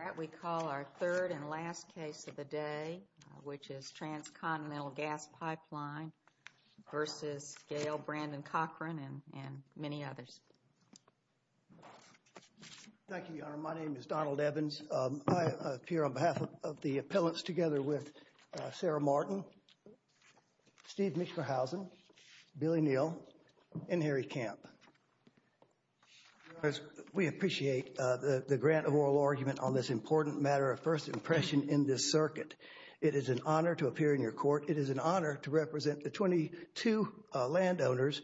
All right, we call our third and last case of the day. Which is Transcontinental Gas Pipeline versus Gail Brandon-Cochran and many others. Thank you, Your Honor. My name is Donald Evans. I appear on behalf of the appellants together with Sarah Martin, Steve Mischerhausen, Billy Neal, and Harry Camp. We appreciate the grant of oral argument on this important matter of first impression in this circuit. It is an honor to appear in your court. It is an honor to represent the 22 landowners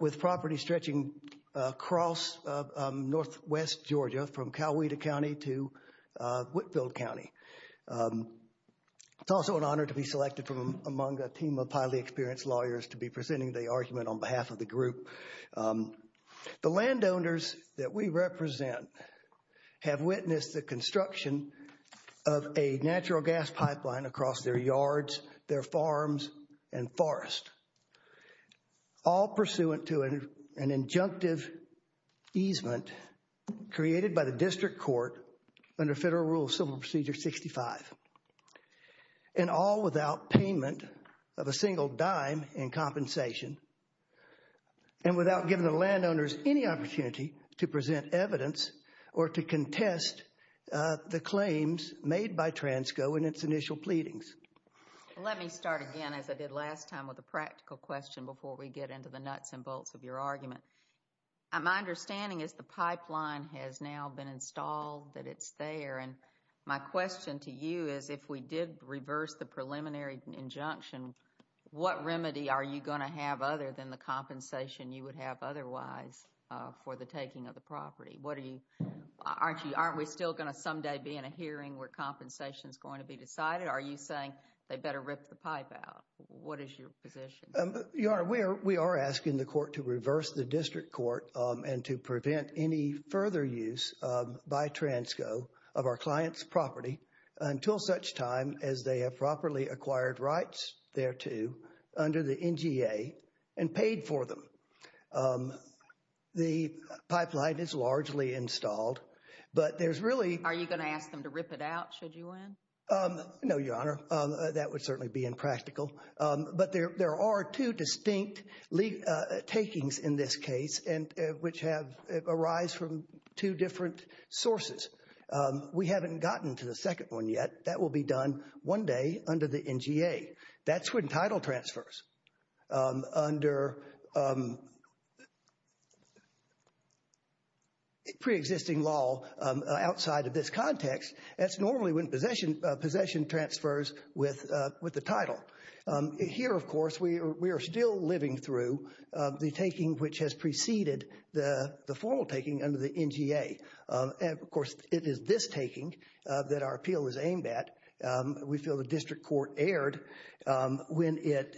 with property stretching across northwest Georgia from Coweta County to Whitfield County. It's also an honor to be selected from among a team of highly experienced lawyers to be presenting the argument on behalf of the group. The landowners that we represent have witnessed the construction of a natural gas pipeline across their yards, their farms, and forests. All pursuant to an injunctive easement created by the district court under Federal Rule of Civil Procedure 65. And all without payment of a single dime in compensation. And without giving the landowners any opportunity to present evidence or to contest the claims made by Transco in its initial pleadings. Let me start again as I did last time with a practical question before we get into the nuts and bolts of your argument. My understanding is the pipeline has now been installed, that it's there. And my question to you is if we did reverse the preliminary injunction, what remedy are you going to have other than the compensation you would have otherwise for the taking of the property? Aren't we still going to someday be in a hearing where compensation is going to be decided? Are you saying they better rip the pipe out? What is your position? Your Honor, we are asking the court to reverse the district court and to prevent any further use by Transco of our client's property until such time as they have properly acquired rights thereto under the NGA and paid for them. The pipeline is largely installed, but there's really… Are you going to ask them to rip it out should you win? No, Your Honor. That would certainly be impractical. But there are two distinct takings in this case, which arise from two different sources. We haven't gotten to the second one yet. That will be done one day under the NGA. That's when title transfers under preexisting law outside of this context. That's normally when possession transfers with the title. Here, of course, we are still living through the taking which has preceded the formal taking under the NGA. Of course, it is this taking that our appeal is aimed at. We feel the district court erred when it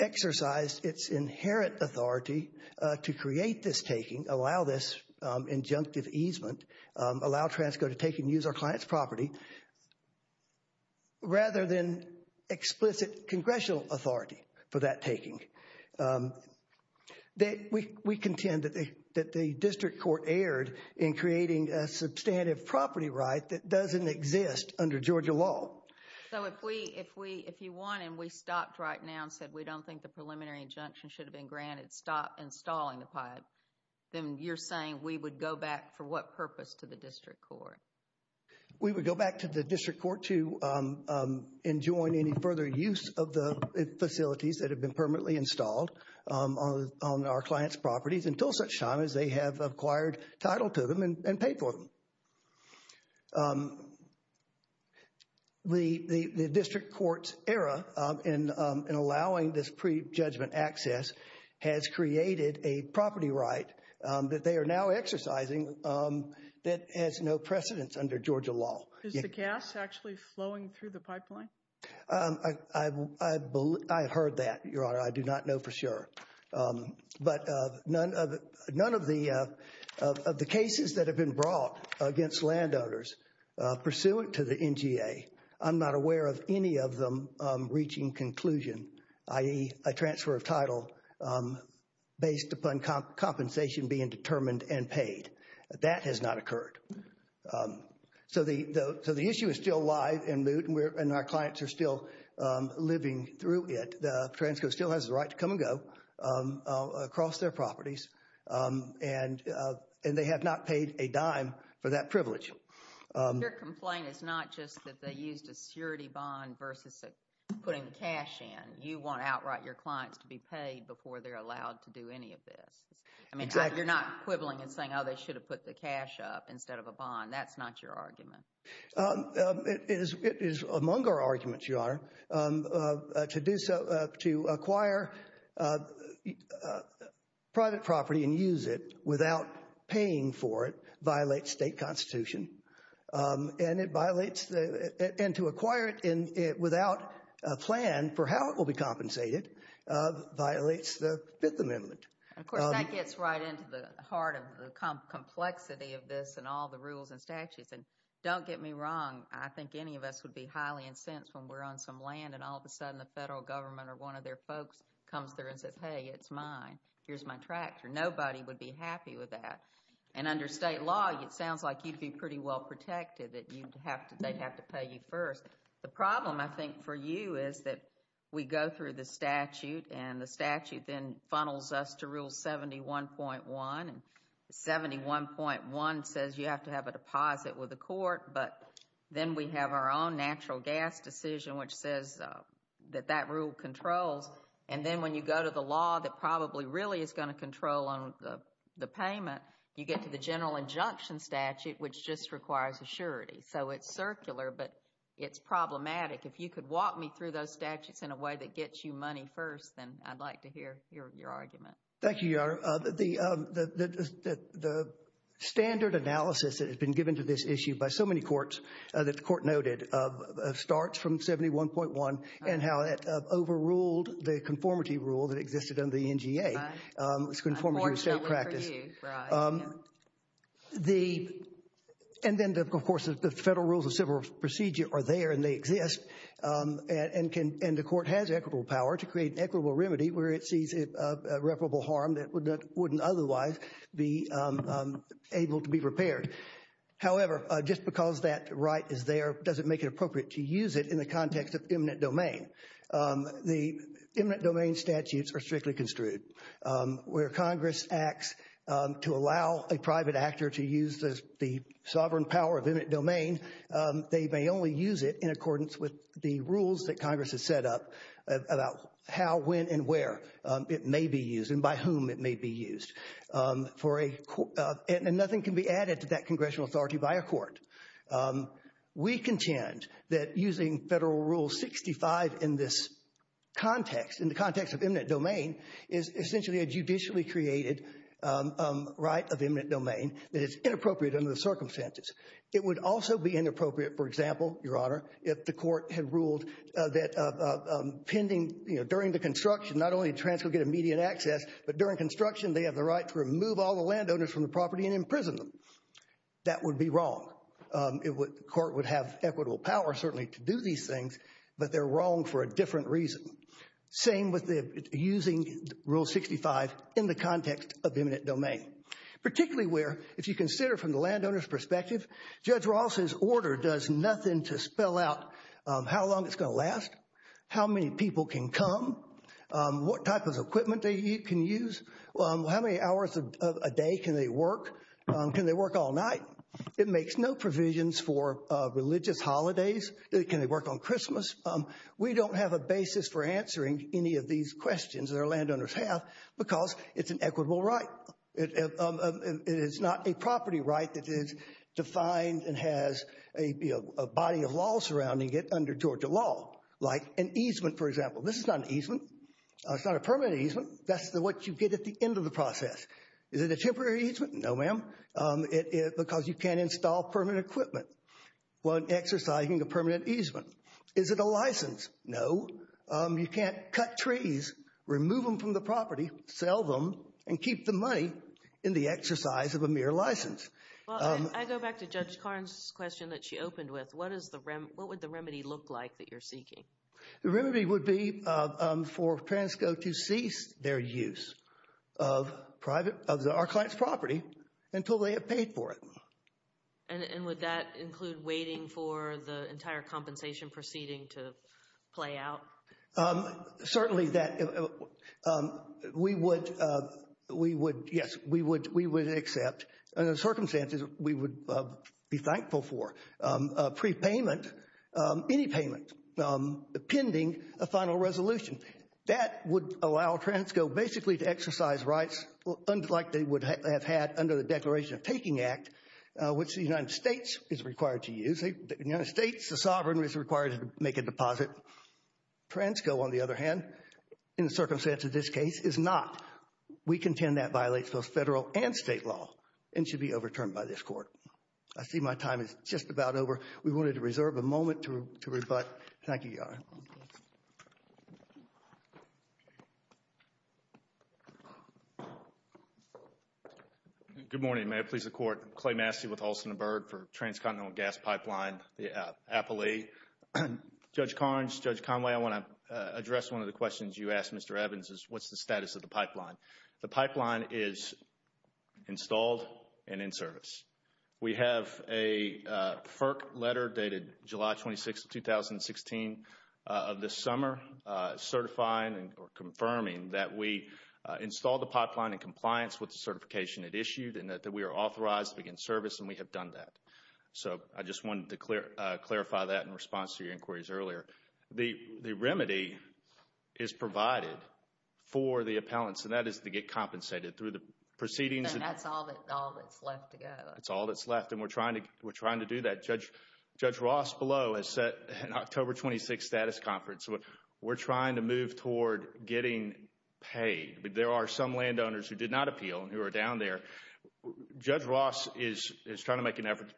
exercised its inherent authority to create this taking, allow this injunctive easement, allow Transco to take and use our client's property rather than explicit congressional authority for that taking. We contend that the district court erred in creating a substantive property right that doesn't exist under Georgia law. So if you won and we stopped right now and said we don't think the preliminary injunction should have been granted, stopped installing the pipe, then you're saying we would go back for what purpose to the district court? We would go back to the district court to enjoin any further use of the facilities that have been permanently installed on our client's properties until such time as they have acquired title to them and paid for them. The district court's error in allowing this prejudgment access has created a property right that they are now exercising that has no precedence under Georgia law. Is the gas actually flowing through the pipeline? I heard that, Your Honor. I do not know for sure. But none of the cases that have been brought against landowners pursuant to the NGA, I'm not aware of any of them reaching conclusion, i.e. a transfer of title based upon compensation being determined and paid. That has not occurred. So the issue is still alive and our clients are still living through it. Transco still has the right to come and go across their properties and they have not paid a dime for that privilege. Your complaint is not just that they used a security bond versus putting cash in. You want outright your clients to be paid before they're allowed to do any of this. Exactly. You're not quibbling and saying, oh, they should have put the cash up instead of a bond. That's not your argument. It is among our arguments, Your Honor, to acquire private property and use it without paying for it violates state constitution. And to acquire it without a plan for how it will be compensated violates the Fifth Amendment. Of course, that gets right into the heart of the complexity of this and all the rules and statutes. And don't get me wrong. I think any of us would be highly incensed when we're on some land and all of a sudden the federal government or one of their folks comes there and says, hey, it's mine. Here's my tractor. Nobody would be happy with that. And under state law, it sounds like you'd be pretty well protected that they'd have to pay you first. The problem, I think, for you is that we go through the statute, and the statute then funnels us to Rule 71.1. And 71.1 says you have to have a deposit with the court, but then we have our own natural gas decision, which says that that rule controls. And then when you go to the law that probably really is going to control the payment, you get to the general injunction statute, which just requires assurity. So it's circular, but it's problematic. If you could walk me through those statutes in a way that gets you money first, then I'd like to hear your argument. Thank you, Your Honor. The standard analysis that has been given to this issue by so many courts that the court noted starts from 71.1 and how that overruled the conformity rule that existed under the NGA. It's conformity and self-practice. And then, of course, the federal rules of civil procedure are there, and they exist. And the court has equitable power to create an equitable remedy where it sees irreparable harm that wouldn't otherwise be able to be repaired. However, just because that right is there doesn't make it appropriate to use it in the context of eminent domain. The eminent domain statutes are strictly construed. Where Congress acts to allow a private actor to use the sovereign power of eminent domain, they may only use it in accordance with the rules that Congress has set up about how, when, and where it may be used and by whom it may be used. And nothing can be added to that congressional authority by a court. We contend that using Federal Rule 65 in this context, in the context of eminent domain, is essentially a judicially created right of eminent domain that is inappropriate under the circumstances. It would also be inappropriate, for example, Your Honor, if the court had ruled that pending, you know, during the construction, not only would a transfer get immediate access, but during construction, they have the right to remove all the landowners from the property and imprison them. That would be wrong. The court would have equitable power, certainly, to do these things, but they're wrong for a different reason. Same with using Rule 65 in the context of eminent domain. Particularly where, if you consider from the landowner's perspective, Judge Ross's order does nothing to spell out how long it's going to last, how many people can come, what type of equipment they can use, how many hours a day can they work, can they work all night. It makes no provisions for religious holidays. Can they work on Christmas? We don't have a basis for answering any of these questions that our landowners have because it's an equitable right. It is not a property right that is defined and has a body of law surrounding it under Georgia law, like an easement, for example. This is not an easement. It's not a permanent easement. That's what you get at the end of the process. Is it a temporary easement? No, ma'am, because you can't install permanent equipment when exercising a permanent easement. Is it a license? No, you can't cut trees, remove them from the property, sell them, and keep the money in the exercise of a mere license. Well, I go back to Judge Karn's question that she opened with. What would the remedy look like that you're seeking? The remedy would be for Transco to cease their use of our client's property until they have paid for it. And would that include waiting for the entire compensation proceeding to play out? Certainly that we would, yes, we would accept. Under the circumstances, we would be thankful for a prepayment, any payment, pending a final resolution. That would allow Transco basically to exercise rights like they would have had under the Declaration of Taking Act, which the United States is required to use. In the United States, the sovereign is required to make a deposit. Transco, on the other hand, in the circumstance of this case, is not. We contend that violates both federal and state law and should be overturned by this court. I see my time is just about over. We wanted to reserve a moment to rebut. Thank you, Your Honor. Good morning. May it please the Court. Clay Massey with Olson & Byrd for Transcontinental Gas Pipeline, the Appalachee. Judge Carnes, Judge Conway, I want to address one of the questions you asked Mr. Evans, is what's the status of the pipeline? The pipeline is installed and in service. We have a FERC letter dated July 26, 2016 of this summer, certifying or confirming that we installed the pipeline in compliance with the certification it issued and that we are authorized to begin service and we have done that. So I just wanted to clarify that in response to your inquiries earlier. The remedy is provided for the appellants, and that is to get compensated through the proceedings. That's all that's left to go. That's all that's left, and we're trying to do that. Judge Ross Below has set an October 26th status conference. We're trying to move toward getting paid. There are some landowners who did not appeal and who are down there. Judge Ross is trying to make an effort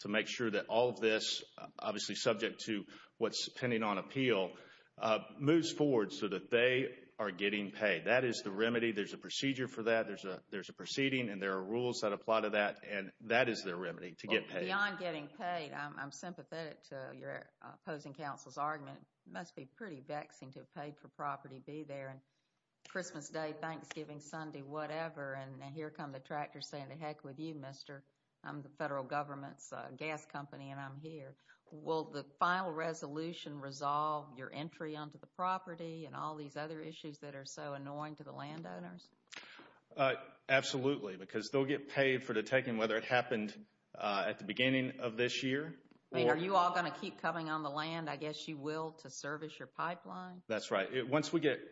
to make sure that all of this, obviously subject to what's pending on appeal, moves forward so that they are getting paid. That is the remedy. There's a procedure for that. There's a proceeding and there are rules that apply to that, and that is their remedy, to get paid. Beyond getting paid, I'm sympathetic to your opposing counsel's argument. It must be pretty vexing to have paid for property and be there. Christmas Day, Thanksgiving Sunday, whatever, and here come the tractors saying, the heck with you, mister. I'm the federal government's gas company, and I'm here. Will the final resolution resolve your entry onto the property and all these other issues that are so annoying to the landowners? Absolutely, because they'll get paid for detecting whether it happened at the beginning of this year. Are you all going to keep coming on the land? I guess you will to service your pipeline. That's right.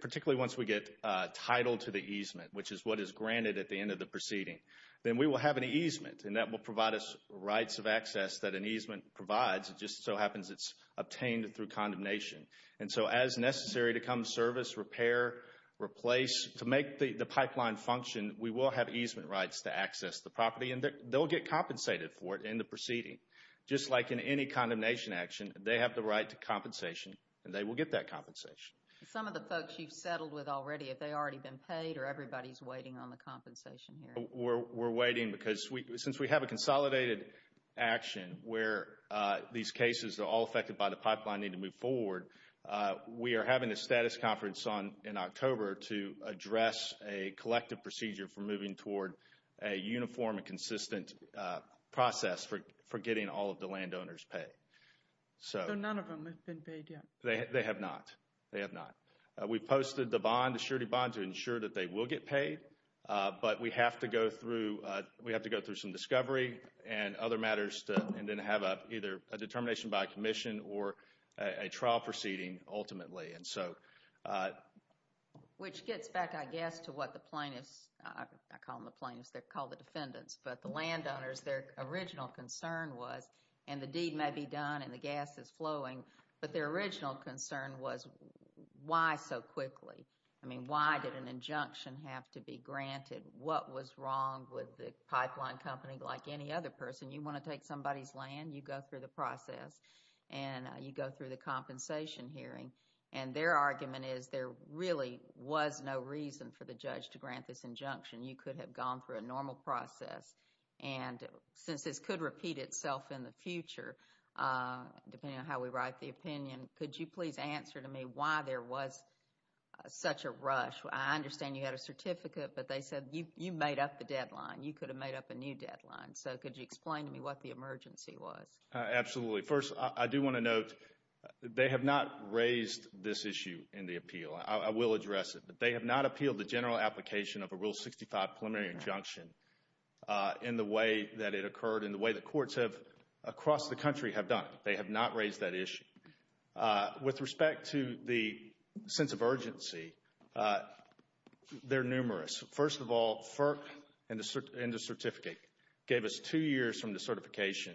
Particularly once we get title to the easement, which is what is granted at the end of the proceeding, then we will have an easement, and that will provide us rights of access that an easement provides. It just so happens it's obtained through condemnation. And so as necessary to come to service, repair, replace, to make the pipeline function, we will have easement rights to access the property, and they'll get compensated for it in the proceeding. Just like in any condemnation action, they have the right to compensation, and they will get that compensation. Some of the folks you've settled with already, have they already been paid, or everybody's waiting on the compensation here? We're waiting because since we have a consolidated action where these cases are all affected by the pipeline and need to move forward, we are having a status conference in October to address a collective procedure for moving toward a uniform and consistent process for getting all of the landowners paid. So none of them have been paid yet? They have not. They have not. We've posted the bond, the surety bond, to ensure that they will get paid, but we have to go through some discovery and other matters and then have either a determination by a commission or a trial proceeding ultimately. Which gets back, I guess, to what the plaintiffs, I call them the plaintiffs, they're called the defendants, but the landowners, their original concern was, and the deed may be done and the gas is flowing, but their original concern was, why so quickly? I mean, why did an injunction have to be granted? What was wrong with the pipeline company like any other person? You want to take somebody's land? You go through the process and you go through the compensation hearing, and their argument is there really was no reason for the judge to grant this injunction. You could have gone through a normal process, and since this could repeat itself in the future, depending on how we write the opinion, could you please answer to me why there was such a rush? I understand you had a certificate, but they said you made up the deadline. You could have made up a new deadline. So could you explain to me what the emergency was? Absolutely. First, I do want to note they have not raised this issue in the appeal. I will address it, but they have not appealed the general application of a Rule 65 preliminary injunction in the way that it occurred, in the way that courts across the country have done it. They have not raised that issue. With respect to the sense of urgency, they're numerous. First of all, FERC and the certificate gave us two years from the certification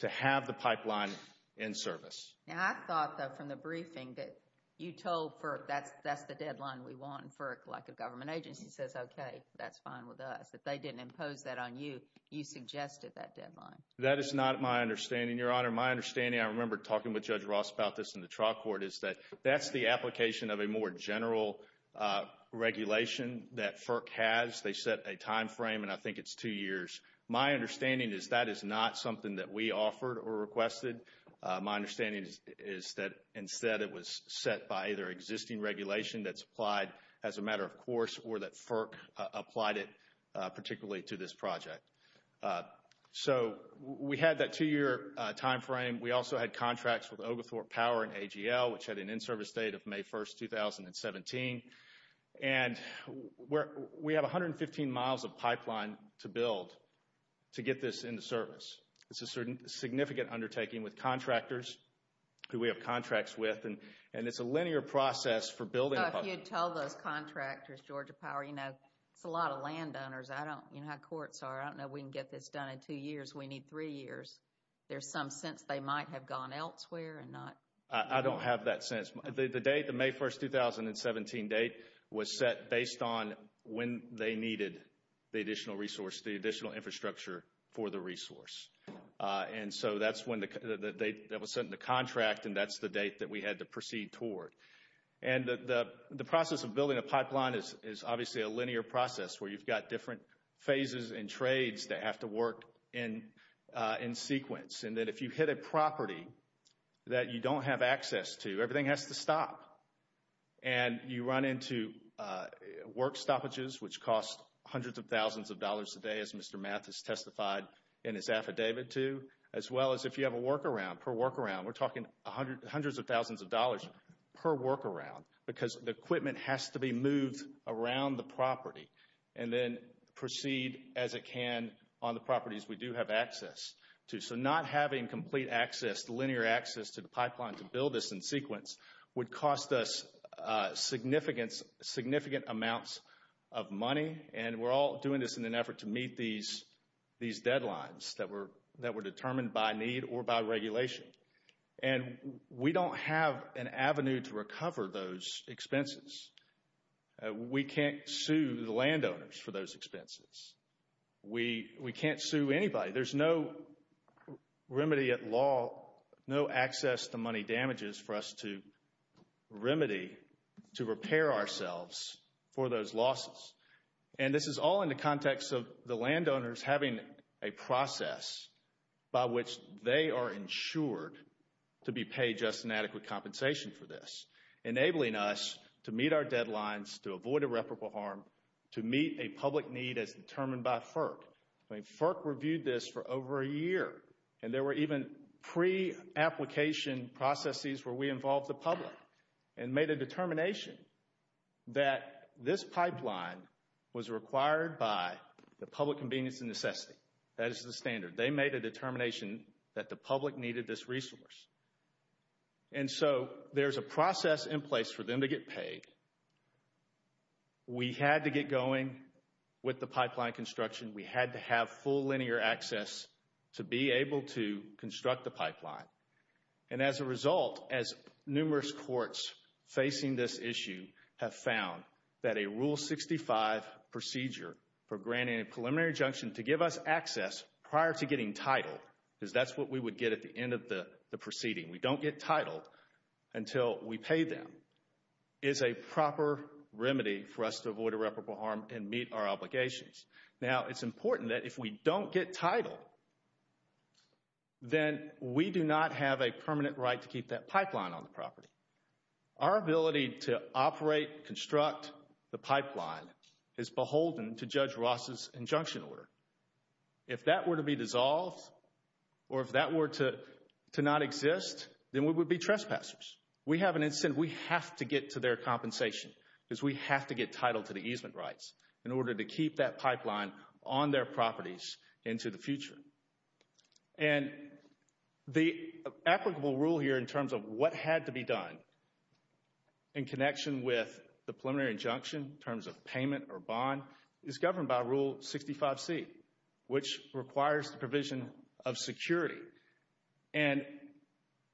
to have the pipeline in service. I thought, though, from the briefing that you told FERC that's the deadline we want, and FERC, like a government agency, says, okay, that's fine with us. If they didn't impose that on you, you suggested that deadline. That is not my understanding, Your Honor. My understanding, I remember talking with Judge Ross about this in the trial court, is that that's the application of a more general regulation that FERC has. They set a time frame, and I think it's two years. My understanding is that is not something that we offered or requested. My understanding is that, instead, it was set by either existing regulation that's applied as a matter of course or that FERC applied it particularly to this project. So we had that two-year time frame. We also had contracts with Oglethorpe Power and AGL, which had an in-service date of May 1, 2017. And we have 115 miles of pipeline to build to get this into service. It's a significant undertaking with contractors who we have contracts with, and it's a linear process for building a pipeline. If you had told those contractors, Georgia Power, you know, it's a lot of landowners. I don't know how courts are. I don't know if we can get this done in two years. We need three years. There's some sense they might have gone elsewhere and not. I don't have that sense. The date, the May 1, 2017 date, was set based on when they needed the additional resource, the additional infrastructure for the resource. And so that's when the date that was set in the contract, and that's the date that we had to proceed toward. And the process of building a pipeline is obviously a linear process where you've got different phases and trades that have to work in sequence, and that if you hit a property that you don't have access to, everything has to stop. And you run into work stoppages, which cost hundreds of thousands of dollars a day, as Mr. Mathis testified in his affidavit to, as well as if you have a workaround, per workaround. We're talking hundreds of thousands of dollars per workaround because the equipment has to be moved around the property and then proceed as it can on the properties we do have access to. So not having complete access, linear access, to the pipeline to build this in sequence would cost us significant amounts of money. And we're all doing this in an effort to meet these deadlines that were determined by need or by regulation. And we don't have an avenue to recover those expenses. We can't sue the landowners for those expenses. We can't sue anybody. There's no remedy at law, no access to money damages for us to remedy, to repair ourselves for those losses. And this is all in the context of the landowners having a process by which they are insured to be paid just an adequate compensation for this, enabling us to meet our deadlines, to avoid irreparable harm, to meet a public need as determined by FERC. I mean, FERC reviewed this for over a year. And there were even pre-application processes where we involved the public and made a determination that this pipeline was required by the public convenience and necessity. That is the standard. They made a determination that the public needed this resource. And so there's a process in place for them to get paid. We had to get going with the pipeline construction. We had to have full linear access to be able to construct the pipeline. And as a result, as numerous courts facing this issue have found, that a Rule 65 procedure for granting a preliminary injunction to give us access prior to getting titled, because that's what we would get at the end of the proceeding, we don't get titled until we pay them, is a proper remedy for us to avoid irreparable harm and meet our obligations. Now, it's important that if we don't get titled, then we do not have a permanent right to keep that pipeline on the property. Our ability to operate, construct the pipeline is beholden to Judge Ross's injunction order. If that were to be dissolved or if that were to not exist, then we would be trespassers. We have an incentive. We have to get to their compensation because we have to get titled to the easement rights in order to keep that pipeline on their properties into the future. And the applicable rule here in terms of what had to be done in connection with the preliminary injunction in terms of payment or bond is governed by Rule 65C, which requires the provision of security. And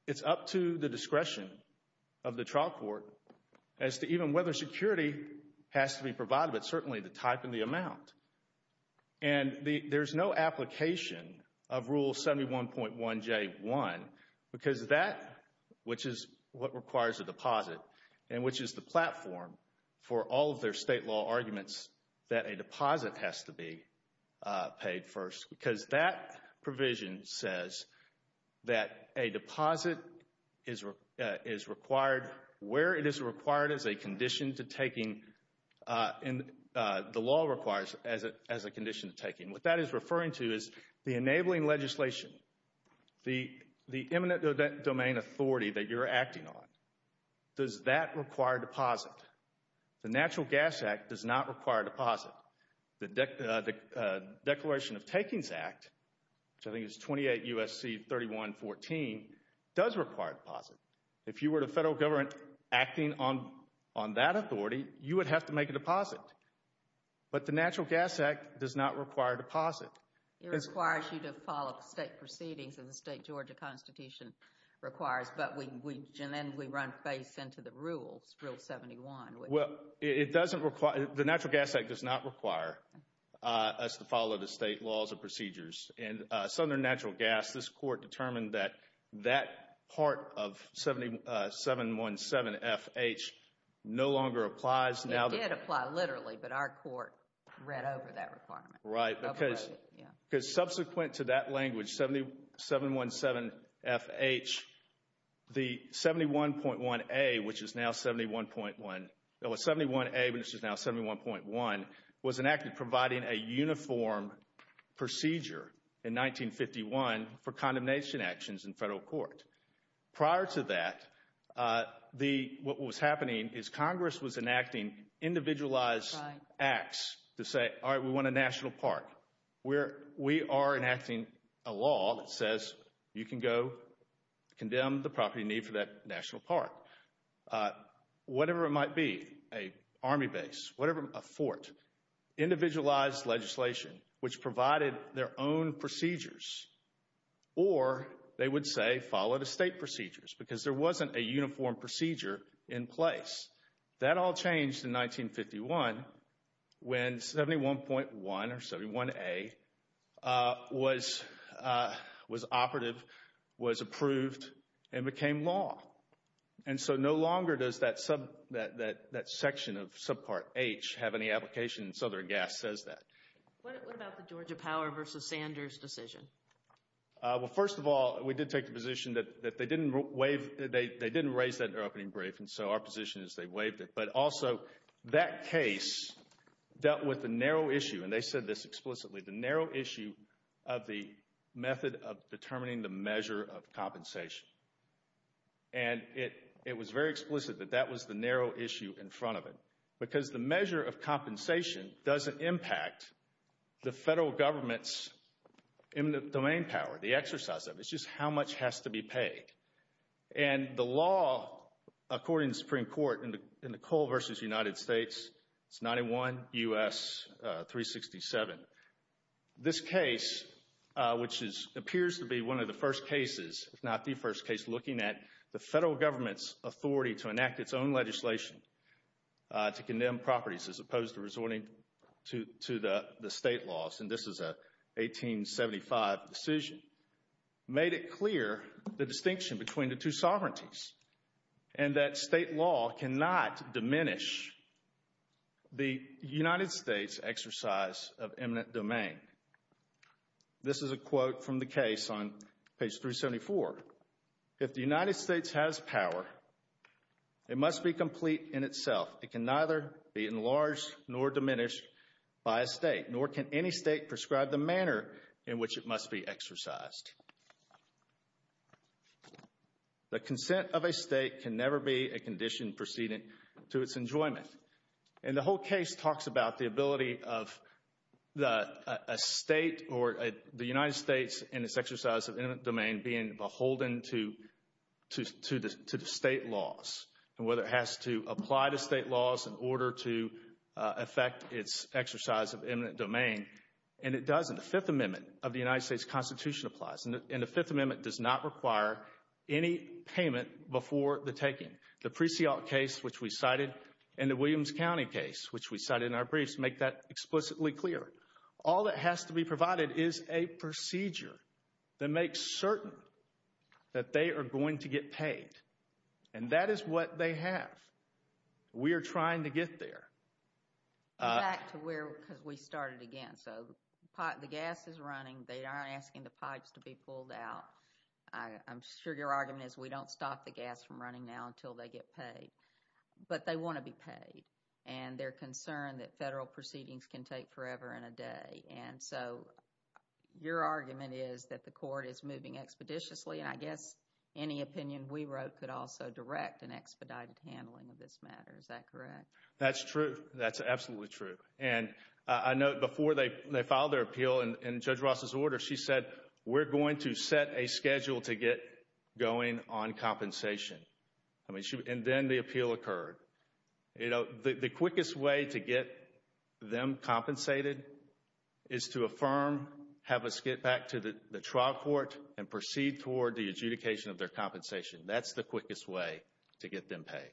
it's up to the discretion of the trial court as to even whether security has to be provided. It's certainly the type and the amount. And there's no application of Rule 71.1J1 because that, which is what requires a deposit, and which is the platform for all of their state law arguments that a deposit has to be paid first because that provision says that a deposit is required where it is required as a condition to taking and the law requires as a condition to taking. What that is referring to is the enabling legislation, the eminent domain authority that you're acting on. Does that require deposit? The Natural Gas Act does not require deposit. The Declaration of Takings Act, which I think is 28 U.S.C. 3114, does require deposit. If you were the federal government acting on that authority, you would have to make a deposit. But the Natural Gas Act does not require deposit. It requires you to follow state proceedings as the state Georgia Constitution requires, but then we run face into the rules, Rule 71. Well, it doesn't require, the Natural Gas Act does not require us to follow the state laws and procedures. In Southern Natural Gas, this court determined that that part of 717FH no longer applies. It did apply literally, but our court read over that requirement. Right, because subsequent to that language, 717FH, the 71.1A, which is now 71.1, was enacted providing a uniform procedure in 1951 for condemnation actions in federal court. Prior to that, what was happening is Congress was enacting individualized acts to say, all right, we want a national park. We are enacting a law that says you can go condemn the property in need for that national park. Whatever it might be, an army base, whatever, a fort. Individualized legislation which provided their own procedures, or they would say follow the state procedures because there wasn't a uniform procedure in place. That all changed in 1951 when 71.1 or 71A was operative, was approved, and became law. And so no longer does that section of subpart H have any application in Southern Gas says that. What about the Georgia Power versus Sanders decision? Well, first of all, we did take the position that they didn't raise that in their opening brief, and so our position is they waived it. But also, that case dealt with the narrow issue, and they said this explicitly, the narrow issue of the method of determining the measure of compensation. And it was very explicit that that was the narrow issue in front of it because the measure of compensation doesn't impact the federal government's eminent domain power, the exercise of it. And the law, according to the Supreme Court, in the Coal versus United States, it's 91 U.S. 367. This case, which appears to be one of the first cases, if not the first case, looking at the federal government's authority to enact its own legislation to condemn properties as opposed to resorting to the state laws, and this is a 1875 decision, made it clear the distinction between the two sovereignties and that state law cannot diminish the United States' exercise of eminent domain. This is a quote from the case on page 374. If the United States has power, it must be complete in itself. It can neither be enlarged nor diminished by a state, nor can any state prescribe the manner in which it must be exercised. The consent of a state can never be a condition precedent to its enjoyment. And the whole case talks about the ability of a state or the United States and its exercise of eminent domain being beholden to the state laws and whether it has to apply to state laws in order to affect its exercise of eminent domain. And it doesn't. The Fifth Amendment of the United States Constitution applies, and the Fifth Amendment does not require any payment before the taking. The Presialt case, which we cited, and the Williams County case, which we cited in our briefs, make that explicitly clear. All that has to be provided is a procedure that makes certain that they are going to get paid. And that is what they have. We are trying to get there. Back to where we started again. So the gas is running. They are asking the pipes to be pulled out. I'm sure your argument is we don't stop the gas from running now until they get paid. But they want to be paid, and they're concerned that federal proceedings can take forever and a day. And so your argument is that the court is moving expeditiously. And I guess any opinion we wrote could also direct an expedited handling of this matter. Is that correct? That's true. That's absolutely true. And I note before they filed their appeal in Judge Ross's order, she said we're going to set a schedule to get going on compensation. And then the appeal occurred. The quickest way to get them compensated is to affirm, have us get back to the trial court, and proceed toward the adjudication of their compensation. That's the quickest way to get them paid.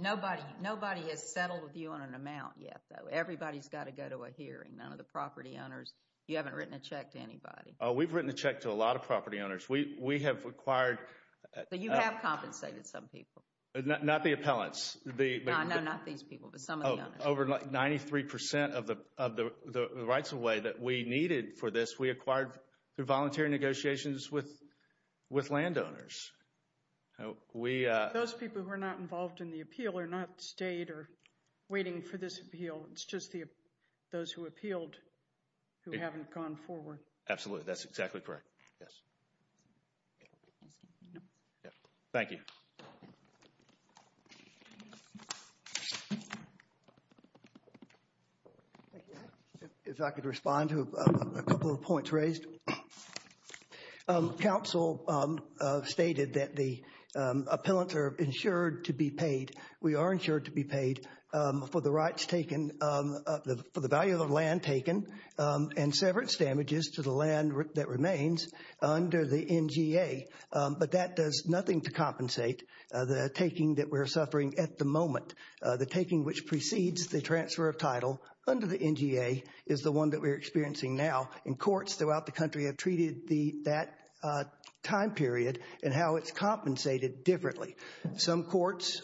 Nobody has settled with you on an amount yet, though. Everybody's got to go to a hearing. None of the property owners. You haven't written a check to anybody. We've written a check to a lot of property owners. We have acquired. So you have compensated some people. Not the appellants. No, not these people, but some of the owners. Over 93% of the rights-of-way that we needed for this, we acquired through voluntary negotiations with landowners. Those people who are not involved in the appeal are not stayed or waiting for this appeal. It's just those who appealed who haven't gone forward. Absolutely. That's exactly correct. Yes. Thank you. If I could respond to a couple of points raised. Council stated that the appellants are insured to be paid. We are insured to be paid for the rights taken, for the value of the land taken, and severance damages to the land that remains under the NGA. But that does nothing to compensate the taking that we're suffering at the moment. The taking which precedes the transfer of title under the NGA is the one that we're experiencing now. And courts throughout the country have treated that time period and how it's compensated differently. Some courts,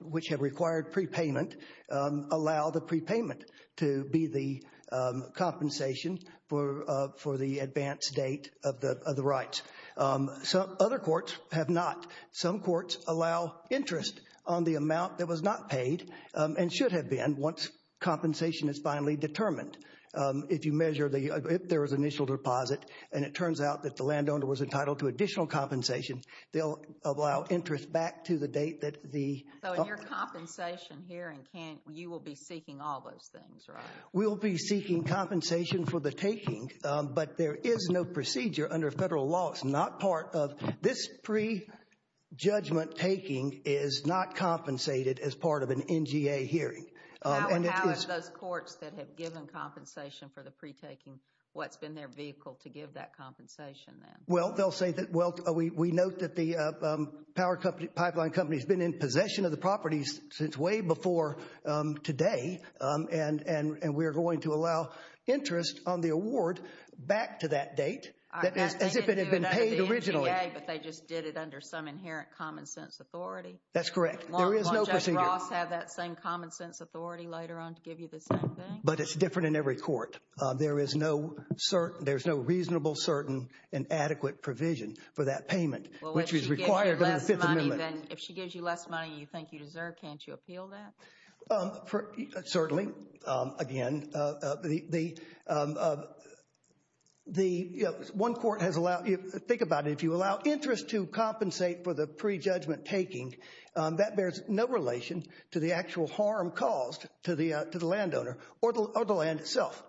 which have required prepayment, allow the prepayment to be the compensation for the advance date of the rights. Other courts have not. Some courts allow interest on the amount that was not paid and should have been once compensation is finally determined. If there was initial deposit and it turns out that the landowner was entitled to additional compensation, they'll allow interest back to the date that the— So in your compensation hearing, you will be seeking all those things, right? We'll be seeking compensation for the taking, but there is no procedure under federal law. It's not part of—this pre-judgment taking is not compensated as part of an NGA hearing. How have those courts that have given compensation for the pre-taking, what's been their vehicle to give that compensation then? Well, they'll say that, well, we note that the Power Pipeline Company has been in possession of the properties since way before today, and we are going to allow interest on the award back to that date as if it had been paid originally. They didn't do it under the NGA, but they just did it under some inherent common-sense authority. That's correct. There is no procedure. Won't Judge Ross have that same common-sense authority later on to give you the same thing? But it's different in every court. There is no reasonable, certain, and adequate provision for that payment, which is required under the Fifth Amendment. Well, if she gives you less money than you think you deserve, can't you appeal that? Certainly, again. One court has allowed—think about it. If you allow interest to compensate for the pre-judgment taking, that bears no relation to the actual harm caused to the landowner or the land itself.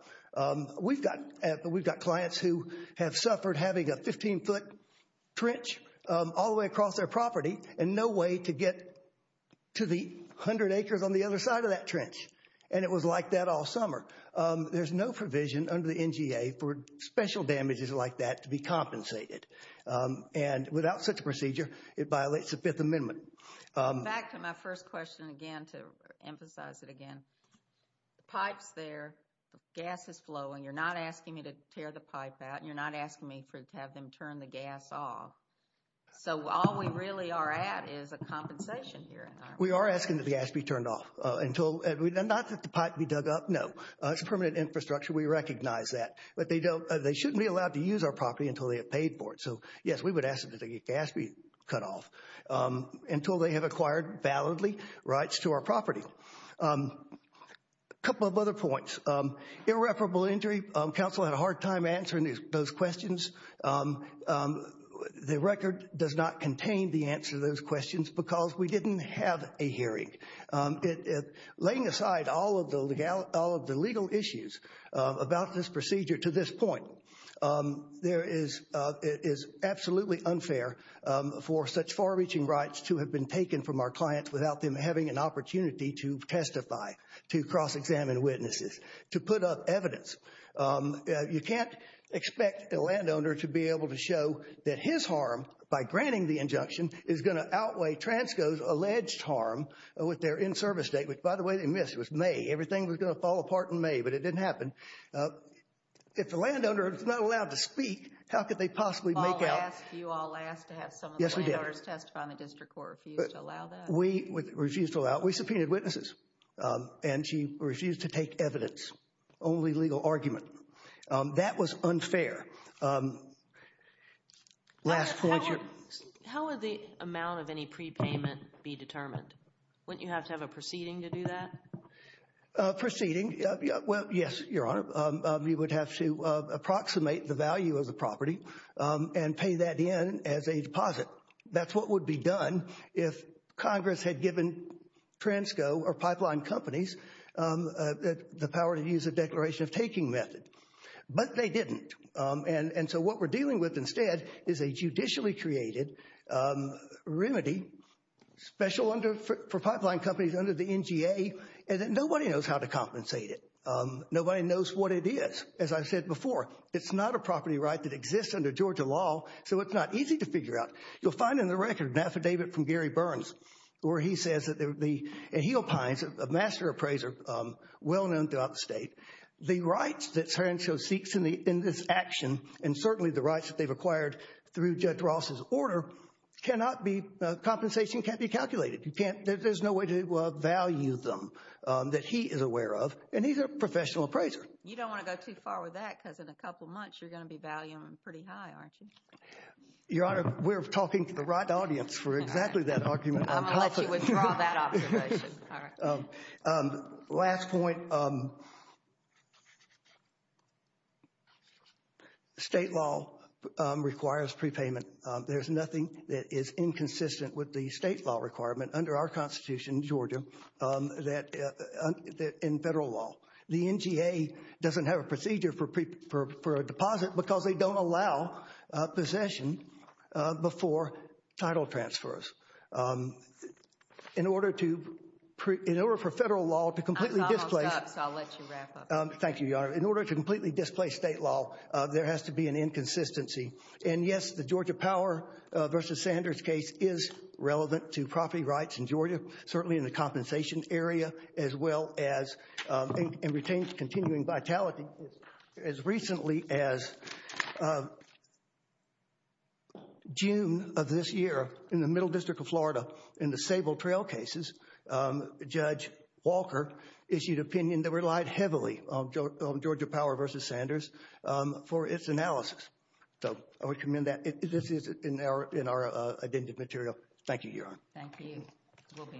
We've got clients who have suffered having a 15-foot trench all the way across their property and no way to get to the 100 acres on the other side of that trench, and it was like that all summer. There's no provision under the NGA for special damages like that to be compensated, and without such a procedure, it violates the Fifth Amendment. Back to my first question again, to emphasize it again. The pipe's there. The gas is flowing. You're not asking me to tear the pipe out. You're not asking me to have them turn the gas off. So all we really are at is a compensation here. We are asking that the gas be turned off. Not that the pipe be dug up, no. It's a permanent infrastructure. We recognize that. But they shouldn't be allowed to use our property until they have paid for it. So, yes, we would ask that the gas be cut off until they have acquired validly rights to our property. A couple of other points. Irreparable injury. Council had a hard time answering those questions. The record does not contain the answer to those questions because we didn't have a hearing. Laying aside all of the legal issues about this procedure to this point, it is absolutely unfair for such far-reaching rights to have been taken from our clients without them having an opportunity to testify, to cross-examine witnesses, to put up evidence. You can't expect a landowner to be able to show that his harm by granting the injunction is going to outweigh TRANSCO's alleged harm with their in-service date, which, by the way, they missed. It was May. Everything was going to fall apart in May, but it didn't happen. If the landowner is not allowed to speak, how could they possibly make out? I'll ask you all last to have some of the landowners testify in the district court who refused to allow that. We refused to allow it. We subpoenaed witnesses. And she refused to take evidence, only legal argument. That was unfair. How would the amount of any prepayment be determined? Wouldn't you have to have a proceeding to do that? Proceeding? Well, yes, Your Honor. You would have to approximate the value of the property and pay that in as a deposit. That's what would be done if Congress had given TRANSCO or pipeline companies the power to use a declaration of taking method. But they didn't. And so what we're dealing with instead is a judicially created remedy, special for pipeline companies under the NGA, and nobody knows how to compensate it. Nobody knows what it is. As I said before, it's not a property right that exists under Georgia law, so it's not easy to figure out. You'll find in the record an affidavit from Gary Burns where he says that the Aheal Pines, a master appraiser well-known throughout the state, the rights that TRANSCO seeks in this action, and certainly the rights that they've acquired through Judge Ross's order, compensation can't be calculated. There's no way to value them that he is aware of, and he's a professional appraiser. You don't want to go too far with that because in a couple months you're going to be valuing them pretty high, aren't you? Your Honor, we're talking to the right audience for exactly that argument. I'm going to let you withdraw that observation. Last point. State law requires prepayment. There's nothing that is inconsistent with the state law requirement under our Constitution, Georgia, in federal law. The NGA doesn't have a procedure for a deposit because they don't allow possession before title transfers. In order for federal law to completely displace... I was almost up, so I'll let you wrap up. Thank you, Your Honor. In order to completely displace state law, there has to be an inconsistency. And yes, the Georgia Power v. Sanders case is relevant to property rights in Georgia, certainly in the compensation area, as well as in retaining continuing vitality. As recently as June of this year, in the Middle District of Florida, in the Sable Trail cases, Judge Walker issued an opinion that relied heavily on Georgia Power v. Sanders for its analysis. So I would commend that. This is in our addendum material. Thank you, Your Honor. Thank you. We'll be in recess.